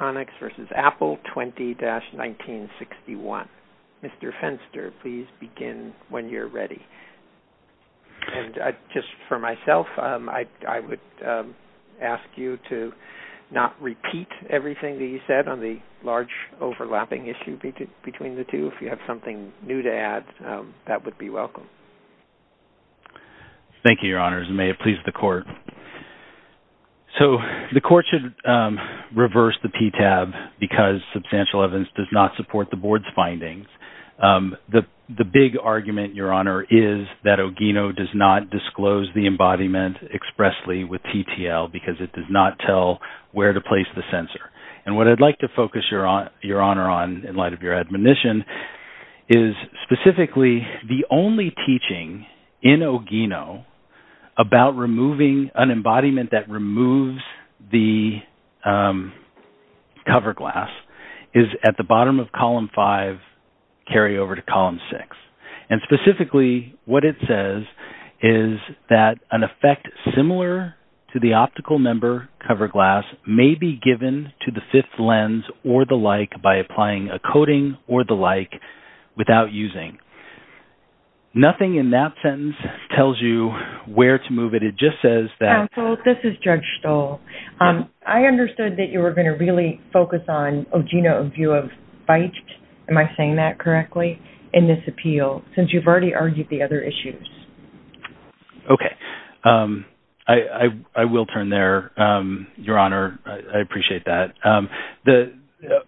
20-1961. Mr. Fenster, please begin when you're ready. And just for myself, I would ask you to not repeat everything that you said on the large overlapping issue between the two. If you have something new to add, that would be welcome. Thank you, Your Honor. And may it please the Court. So, the Court should reverse the PTAB because substantial evidence does not support the Board's findings. The big argument, Your Honor, is that Ogino does not disclose the embodiment expressly with TTL because it does not tell where to place the sensor. And what I'd like to focus Your Honor on in light of your admonition is specifically the only teaching in Ogino about removing an embodiment that removes the cover glass is at the bottom of Column 5, carry over to Column 6. And specifically, what it says is that an effect similar to the optical member cover glass may be given to the fifth lens or the like by applying a coating or the like without using. Nothing in that sentence tells you where to move it. It just says that... Counsel, this is Judge Stoll. I understood that you were going to really focus on Ogino in view of feicht. Am I saying that correctly in this appeal since you've already argued the other issues? Okay. I will turn there, Your Honor. I appreciate that.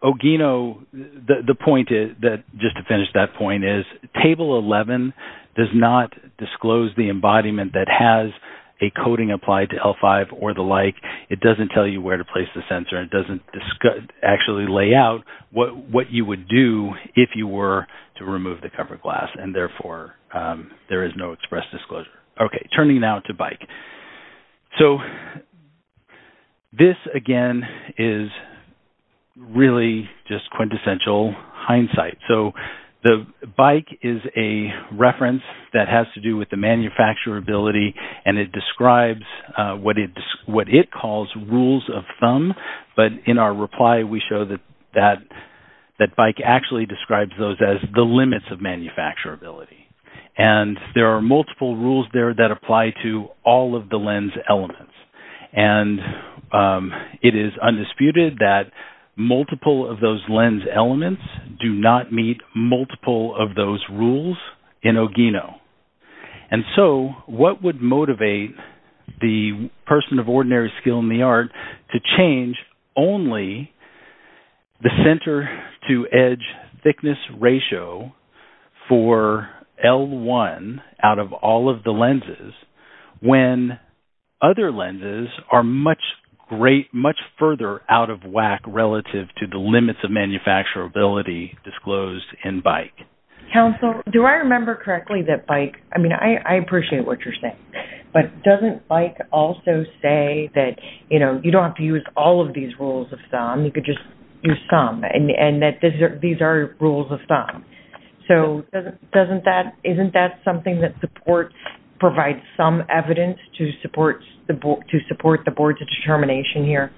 Ogino, the point, just to finish that point, is Table 11 does not disclose the embodiment that has a coating applied to L5 or the like. It doesn't tell you where to place the sensor. It doesn't actually lay out what you would do if you were to remove the cover glass. And therefore, there is no express disclosure. Okay. Turning now to bike. So, this, again, is really just quintessential hindsight. So, the bike is a reference that has to do with the manufacturability. And it describes what it calls rules of thumb. But in our reply, we show that bike actually describes those as the limits of manufacturability. And there are multiple rules there that apply to all of the lens elements. And it is undisputed that multiple of those lens elements do not meet multiple of those rules in Ogino. And so, what would motivate the person of ordinary skill in the art to change only the center-to-edge thickness ratio for L1 out of all of the lenses when other lenses are much further out of whack relative to the limits of manufacturability disclosed in bike? And, counsel, do I remember correctly that bike, I mean, I appreciate what you're saying, but doesn't bike also say that, you know, you don't have to use all of these rules of thumb, you could just use some, and that these are rules of thumb? So, doesn't that, isn't that something that supports, provides some evidence to support the board's determination here?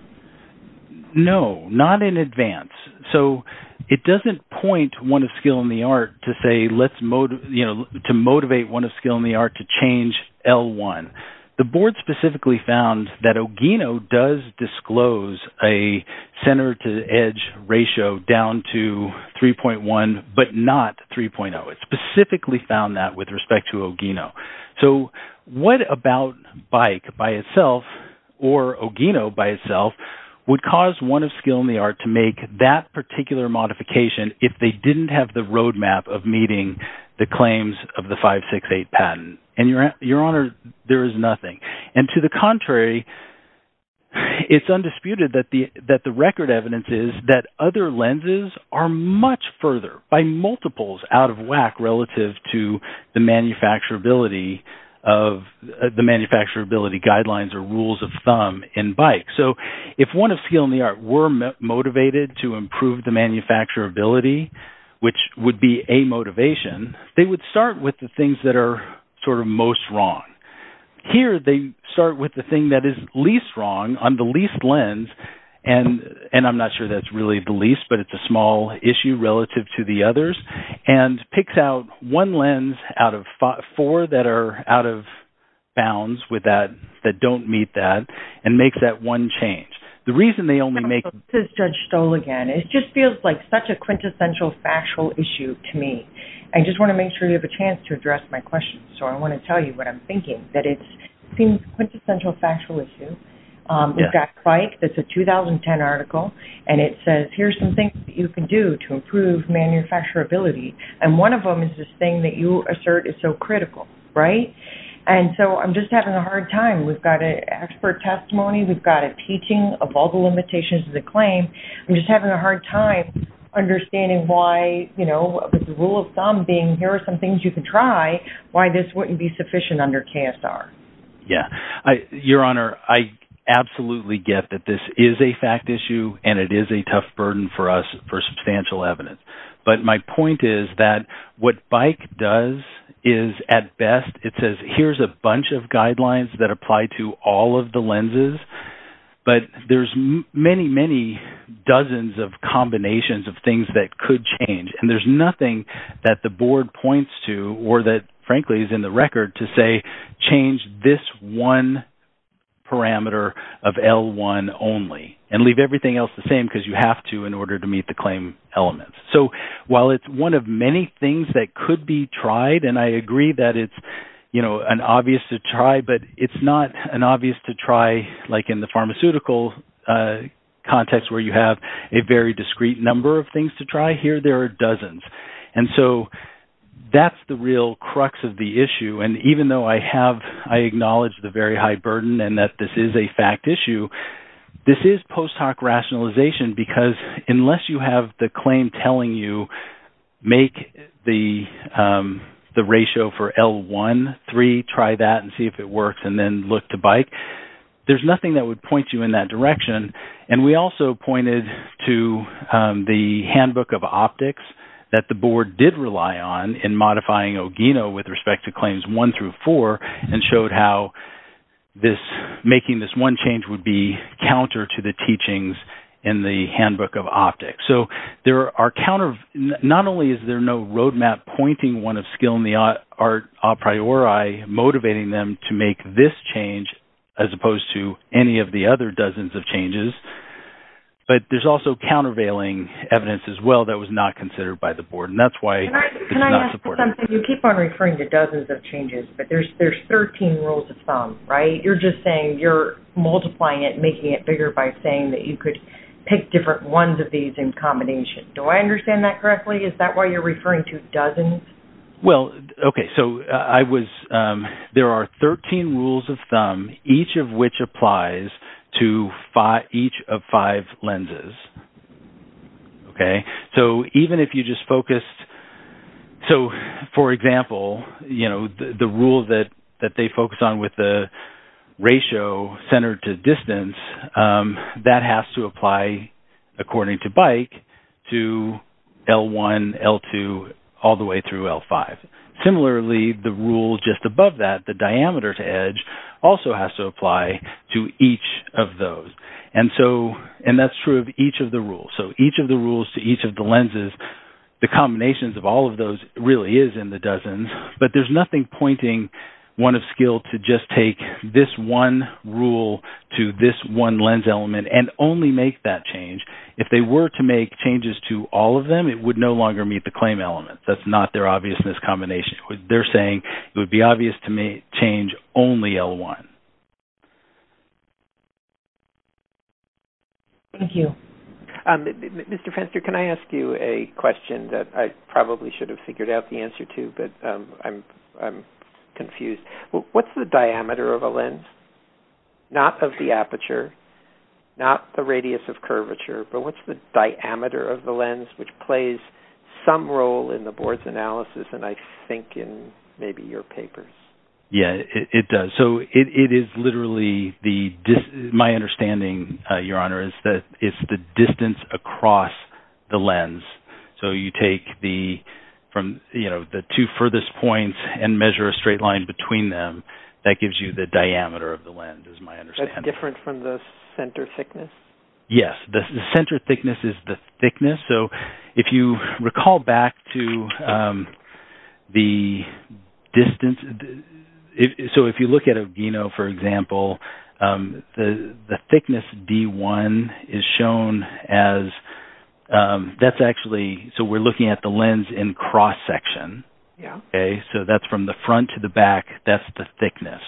No, not in advance. So, it doesn't point one of skill in the art to say let's, you know, to motivate one of skill in the art to change L1. The board specifically found that Ogino does disclose a center-to-edge ratio down to 3.1, but not 3.0. It specifically found that with respect to Ogino. So, what about bike by itself or Ogino by itself would cause one of skill in the art to make that particular modification if they didn't have the roadmap of meeting the claims of the 568 patent? And, your honor, there is nothing. And to the contrary, it's undisputed that the record evidence is that other lenses are much further by multiples out of whack relative to the manufacturability of the manufacturability guidelines or rules of thumb in bike. So, if one of skill in the art were motivated to improve the manufacturability, which would be a motivation, they would start with the things that are sort of most wrong. Here, they start with the thing that is least wrong on the least lens, and I'm not sure that's really the least, but it's a small issue relative to the others, and picks out one lens out of four that are out of bounds with that, that don't meet that, and makes that one change. The reason they only make... This is Judge Stoll again. It just feels like such a quintessential factual issue to me. I just want to make sure you have a chance to address my question. So, I want to tell you what I'm thinking, that it's a quintessential factual issue. We've got bike. It's a 2010 article, and it says, here's some things that you can do to improve manufacturability, and one of them is this thing that you assert is so critical, right? And so, I'm just having a hard time. We've got an expert testimony. We've got a teaching of all the limitations of the claim. I'm just having a hard time understanding why, you know, with the rule of thumb being, here are some things you can try, why this wouldn't be sufficient under KSR. Yeah. Your Honor, I absolutely get that this is a fact issue, and it is a tough burden for us for substantial evidence, but my point is that what bike does is, at best, it says, here's a bunch of guidelines that apply to all of the lenses, but there's many, many dozens of combinations of things that could change, and there's nothing that the board points to, or that, frankly, is in the record to say, change this one parameter of L1 only, and leave everything else the same because you have to in order to meet the claim elements. So, while it's one of many things that could be tried, and I agree that it's, you know, an obvious to try, but it's not an obvious to try like in the pharmaceutical context where you have a very discrete number of things to try. Here, there are dozens, and so that's the real crux of the issue, and even though I have, I acknowledge the very high burden, and that this is a fact issue, this is post hoc rationalization because unless you have the claim telling you make the ratio for L1, 3, try that and see if it works, and then look to bike, there's nothing that would point you in that direction, and we also pointed to the handbook of optics that the board did rely on in modifying Ogino with respect to claims 1 through 4 and showed how making this one change would be counter to the teachings in the handbook of optics. So, there are counter, not only is there no roadmap pointing one of skill in the art a priori, motivating them to make this change as opposed to any of the other dozens of changes, but there's also countervailing evidence as well that was not considered by the board, and that's why it's not supportive. Can I ask you something? You keep on referring to dozens of changes, but there's 13 rules of thumb, right? You're just saying you're multiplying it and making it bigger by saying that you could pick different ones of these in combination. Do I understand that correctly? Is that why you're referring to dozens? Well, okay, so there are 13 rules of thumb, each of which applies to each of five lenses, okay? So, for example, the rule that they focus on with the ratio centered to distance, that has to apply according to bike to L1, L2, all the way through L5. Similarly, the rule just above that, the diameter to edge, also has to apply to each of those, and that's true of each of the rules. So each of the rules to each of the lenses, the combinations of all of those really is in the dozens, but there's nothing pointing one of skill to just take this one rule to this one lens element and only make that change. If they were to make changes to all of them, it would no longer meet the claim element. That's not their obviousness combination. They're saying it would be obvious to change only L1. Thank you. Mr. Fenster, can I ask you a question that I probably should have figured out the answer to, but I'm confused? What's the diameter of a lens? Not of the aperture, not the radius of curvature, but what's the diameter of the lens, which plays some role in the board's analysis and I think in maybe your papers? Yeah, it does. My understanding, Your Honor, is that it's the distance across the lens. So you take the two furthest points and measure a straight line between them. That gives you the diameter of the lens, is my understanding. That's different from the center thickness? Yes, the center thickness is the thickness. So if you recall back to the distance – so if you look at a Gino, for example, the thickness D1 is shown as – that's actually – so we're looking at the lens in cross-section. Yeah. Okay, so that's from the front to the back. That's the thickness.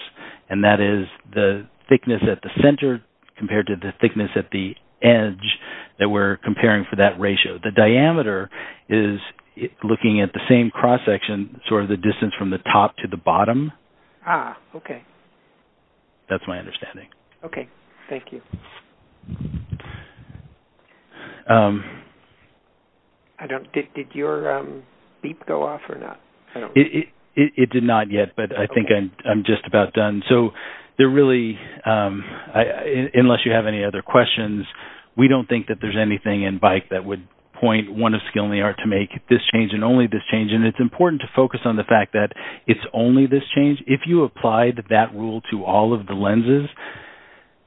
And that is the thickness at the center compared to the thickness at the edge that we're comparing for that ratio. The diameter is looking at the same cross-section, sort of the distance from the top to the bottom. Ah, okay. That's my understanding. Okay, thank you. I don't – did your beep go off or not? It did not yet, but I think I'm just about done. So there really – unless you have any other questions, we don't think that there's anything in BIC that would point one of Skilny Art to make this change and only this change. And it's important to focus on the fact that it's only this change. If you applied that rule to all of the lenses,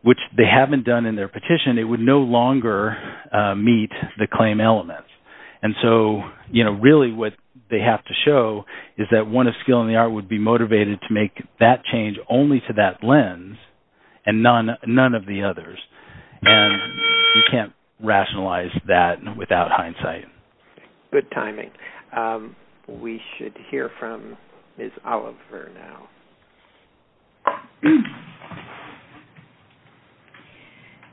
which they haven't done in their petition, it would no longer meet the claim elements. And so, you know, really what they have to show is that one of Skilny Art would be motivated to make that change only to that lens and none of the others. And you can't rationalize that without hindsight. Good timing. We should hear from Ms. Oliver now.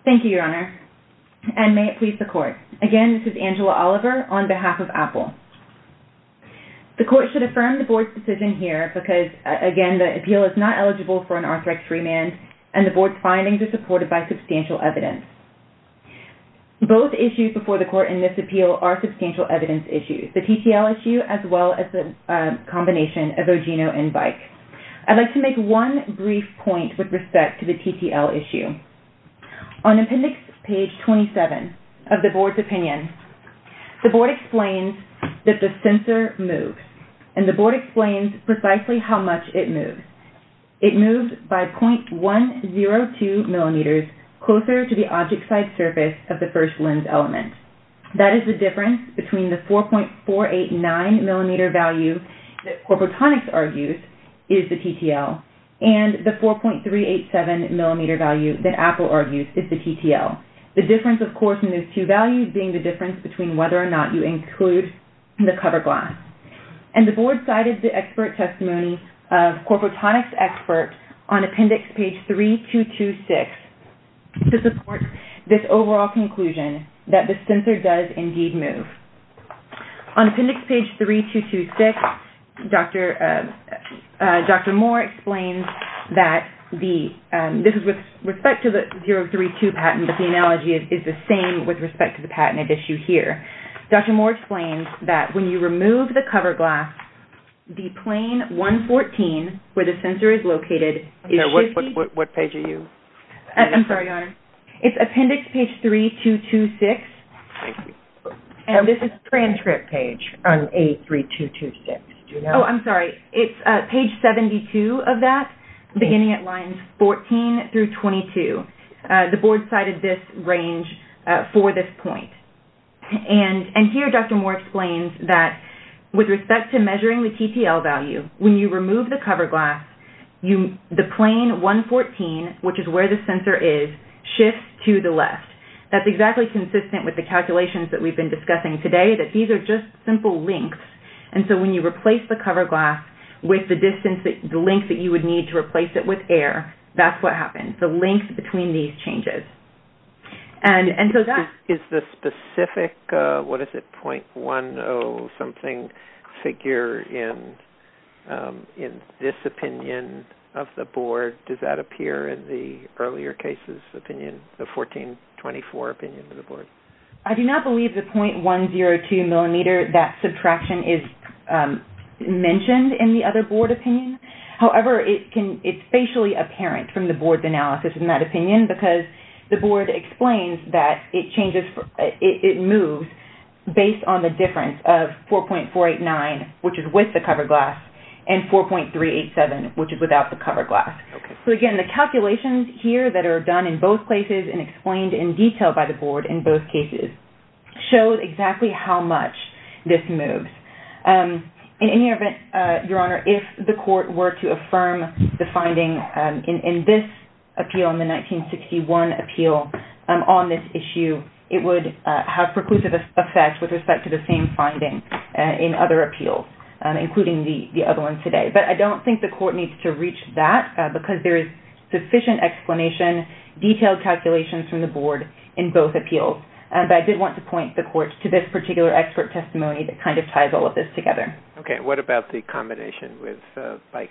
Thank you, Your Honor. And may it please the Court. Again, this is Angela Oliver on behalf of AAPL. The Court should affirm the Board's decision here because, again, the appeal is not eligible for an Arthrex remand and the Board's findings are supported by substantial evidence. Both issues before the Court in this appeal are substantial evidence issues, the TTL issue as well as the combination of OGINO and BIC. I'd like to make one brief point with respect to the TTL issue. On Appendix Page 27 of the Board's opinion, the Board explains that the sensor moves. And the Board explains precisely how much it moved. It moved by 0.102 millimeters closer to the object-side surface of the first lens element. That is the difference between the 4.489-millimeter value that Corporatronics argues is the TTL and the 4.387-millimeter value that AAPL argues is the TTL. The difference, of course, in those two values being the difference between whether or not you include the cover glass. And the Board cited the expert testimony of Corporatronics experts on Appendix Page 3226 to support this overall conclusion that the sensor does indeed move. On Appendix Page 3226, Dr. Moore explains that this is with respect to the 032 patent, but the analogy is the same with respect to the patent at issue here. Dr. Moore explains that when you remove the cover glass, the plane 114, where the sensor is located, what page are you? I'm sorry, Your Honor. It's Appendix Page 3226. Thank you. And this is transcript page on A3226. Oh, I'm sorry. It's page 72 of that, beginning at lines 14 through 22. The Board cited this range for this point. And here, Dr. Moore explains that with respect to measuring the TTL value, when you remove the cover glass, the plane 114, which is where the sensor is, shifts to the left. That's exactly consistent with the calculations that we've been discussing today, that these are just simple links. And so when you replace the cover glass with the length that you would need to replace it with air, that's what happens, the links between these changes. Is the specific, what is it, 0.10 something figure in this opinion of the Board, does that appear in the earlier cases opinion, the 1424 opinion of the Board? I do not believe the 0.102 millimeter, that subtraction is mentioned in the other Board opinion. However, it's facially apparent from the Board's analysis in that opinion, because the Board explains that it moves based on the difference of 4.489, which is with the cover glass, and 4.387, which is without the cover glass. So again, the calculations here that are done in both places and explained in detail by the Board in both cases show exactly how much this moves. In any event, Your Honor, if the Court were to affirm the finding in this appeal, in the 1961 appeal on this issue, it would have preclusive effects with respect to the same finding in other appeals, including the other ones today. But I don't think the Court needs to reach that, because there is sufficient explanation, detailed calculations from the Board in both appeals. But I did want to point the Court to this particular expert testimony that kind of ties all of this together. Okay. What about the combination with BIC?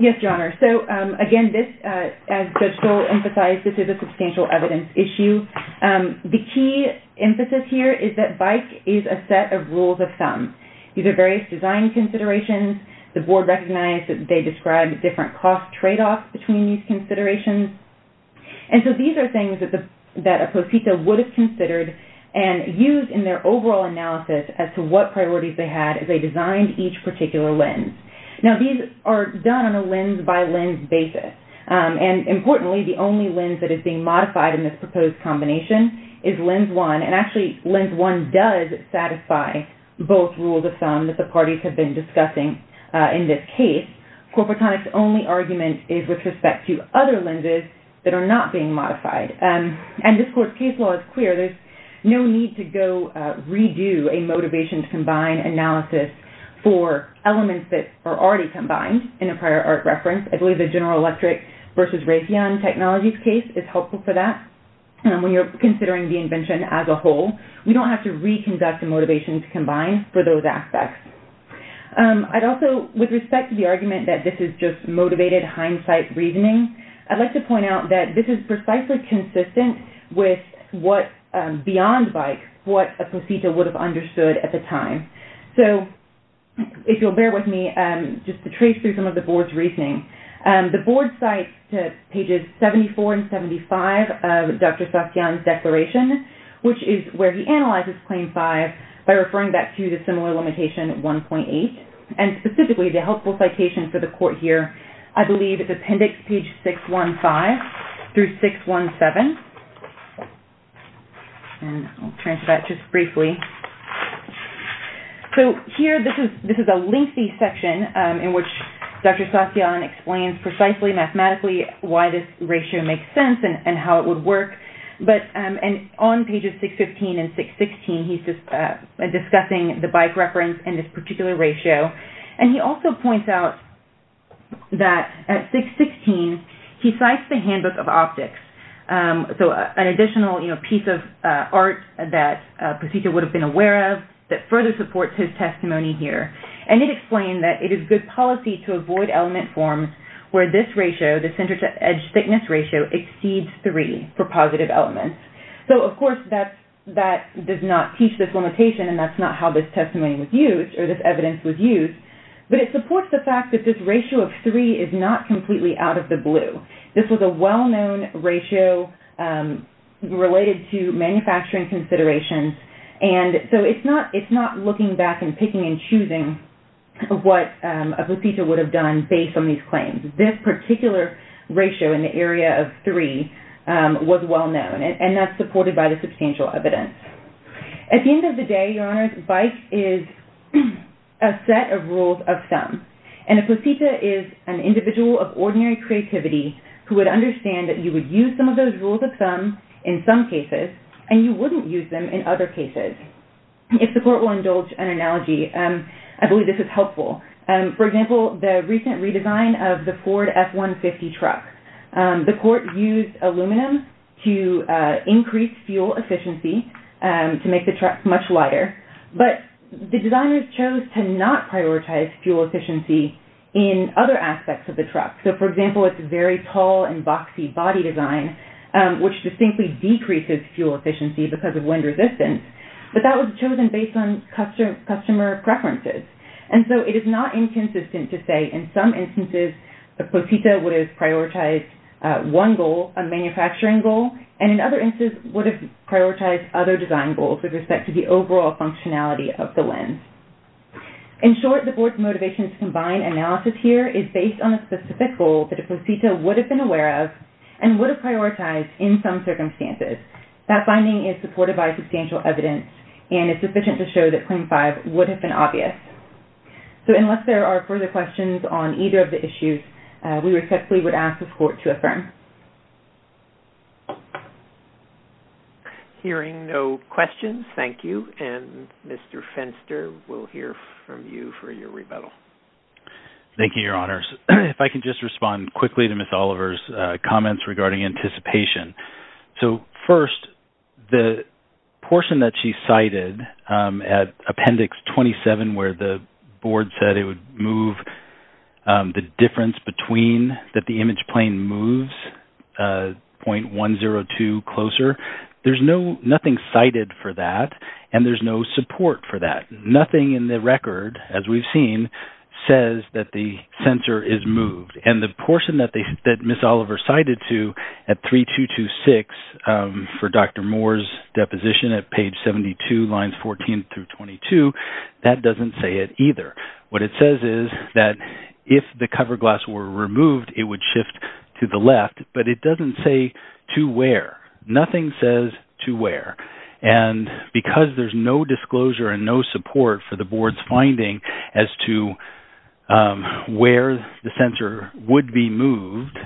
Yes, Your Honor. So again, as Judge Stoll emphasized, this is a substantial evidence issue. The key emphasis here is that BIC is a set of rules of thumb. These are various design considerations. The Board recognized that they described different cost tradeoffs between these considerations. And so these are things that a prosecutor would have considered and used in their overall analysis as to what priorities they had as they designed each particular lens. Now, these are done on a lens-by-lens basis. And importantly, the only lens that is being modified in this proposed combination is Lens 1. And actually, Lens 1 does satisfy both rules of thumb that the parties have been discussing in this case. Corporatonic's only argument is with respect to other lenses that are not being modified. And this Court's case law is clear. There's no need to go redo a motivation-to-combine analysis for elements that are already combined in a prior art reference. I believe the General Electric versus Raytheon Technologies case is helpful for that. When you're considering the invention as a whole, we don't have to reconduct a motivation-to-combine for those aspects. I'd also, with respect to the argument that this is just motivated hindsight reasoning, I'd like to point out that this is precisely consistent with what, beyond bike, what a prosecutor would have understood at the time. So, if you'll bear with me, just to trace through some of the Board's reasoning. The Board cites pages 74 and 75 of Dr. Satyan's declaration, which is where he analyzes Claim 5 by referring back to the similar limitation 1.8. And specifically, the helpful citation for the Court here, I believe is Appendix 615 through 617. And I'll turn to that just briefly. So, here, this is a lengthy section in which Dr. Satyan explains precisely, mathematically, why this ratio makes sense and how it would work. On pages 615 and 616, he's discussing the bike reference and this particular ratio. And he also points out that, at 616, he cites the Handbook of Optics. So, an additional piece of art that a prosecutor would have been aware of that further supports his testimony here. And it explained that it is good policy to avoid element forms where this ratio, the center-to-edge thickness ratio, exceeds 3 for positive elements. So, of course, that does not teach this limitation, and that's not how this testimony was used, or this evidence was used. But it supports the fact that this ratio of 3 is not completely out of the blue. This was a well-known ratio related to manufacturing considerations. And so, it's not looking back and picking and choosing what a prosecutor would have done based on these claims. This particular ratio in the area of 3 was well-known. And that's supported by the substantial evidence. At the end of the day, Your Honor, bike is a set of rules of thumb. And a posita is an individual of ordinary creativity who would understand that you would use some of those rules of thumb in some cases, and you wouldn't use them in other cases. If the court will indulge an analogy, I believe this is helpful. For example, the recent redesign of the Ford F-150 truck. The court used aluminum to increase fuel efficiency to make the truck much lighter. But the designers chose to not prioritize fuel efficiency in other aspects of the truck. So, for example, it's a very tall and boxy body design, which distinctly decreases fuel efficiency because of wind resistance. But that was chosen based on customer preferences. And so, it is not inconsistent to say, in some instances, a posita would have prioritized one goal, a manufacturing goal, and in other instances would have prioritized other design goals with respect to the overall functionality of the lens. In short, the board's motivation to combine analysis here is based on a specific goal that a posita would have been aware of and would have prioritized in some circumstances. That finding is supported by substantial evidence, and it's sufficient to show that claim five would have been obvious. So, unless there are further questions on either of the issues, we respectfully would ask the court to affirm. Hearing no questions, thank you. And Mr. Fenster, we'll hear from you for your rebuttal. Thank you, Your Honors. If I can just respond quickly to Ms. Oliver's comments regarding anticipation. So, first, the portion that she cited at Appendix 27, where the board said it would move the difference between that the image plane moves 0.102 closer, there's nothing cited for that, and there's no support for that. Nothing in the record, as we've seen, says that the sensor is moved. And the portion that Ms. Oliver cited to at 3226 for Dr. Moore's deposition at page 72, lines 14 through 22, that doesn't say it either. What it says is that if the cover glass were removed, it would shift to the left, but it doesn't say to where. Nothing says to where. And because there's no disclosure and no support for the board's finding as to where the sensor would be moved,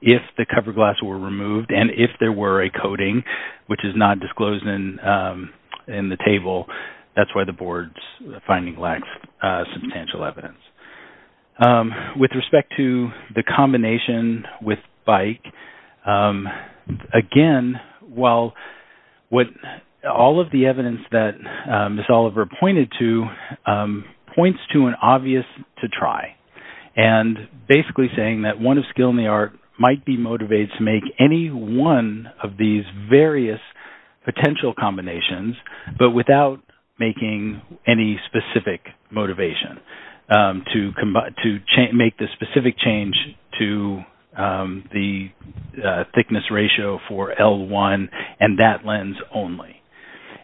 if the cover glass were removed and if there were a coating, which is not disclosed in the table, that's why the board's finding lacks substantial evidence. With respect to the combination with bike, again, while all of the evidence that Ms. Oliver pointed to points to an obvious to try and basically saying that one of skill in the art might be motivated to make any one of these various potential combinations, but without making any specific motivation. To make the specific change to the thickness ratio for L1 and that lens only.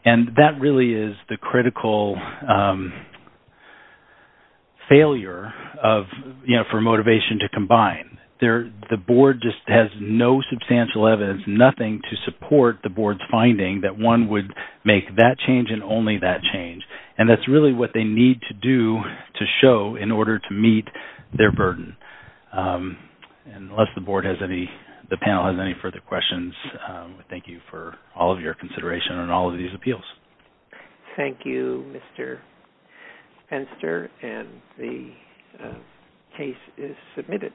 And that really is the critical failure for motivation to combine. The board just has no substantial evidence, nothing to support the board's finding, that one would make that change and only that change. And that's really what they need to do to show in order to meet their burden. Unless the panel has any further questions, we thank you for all of your consideration on all of these appeals. Thank you, Mr. Penster, and the case is submitted.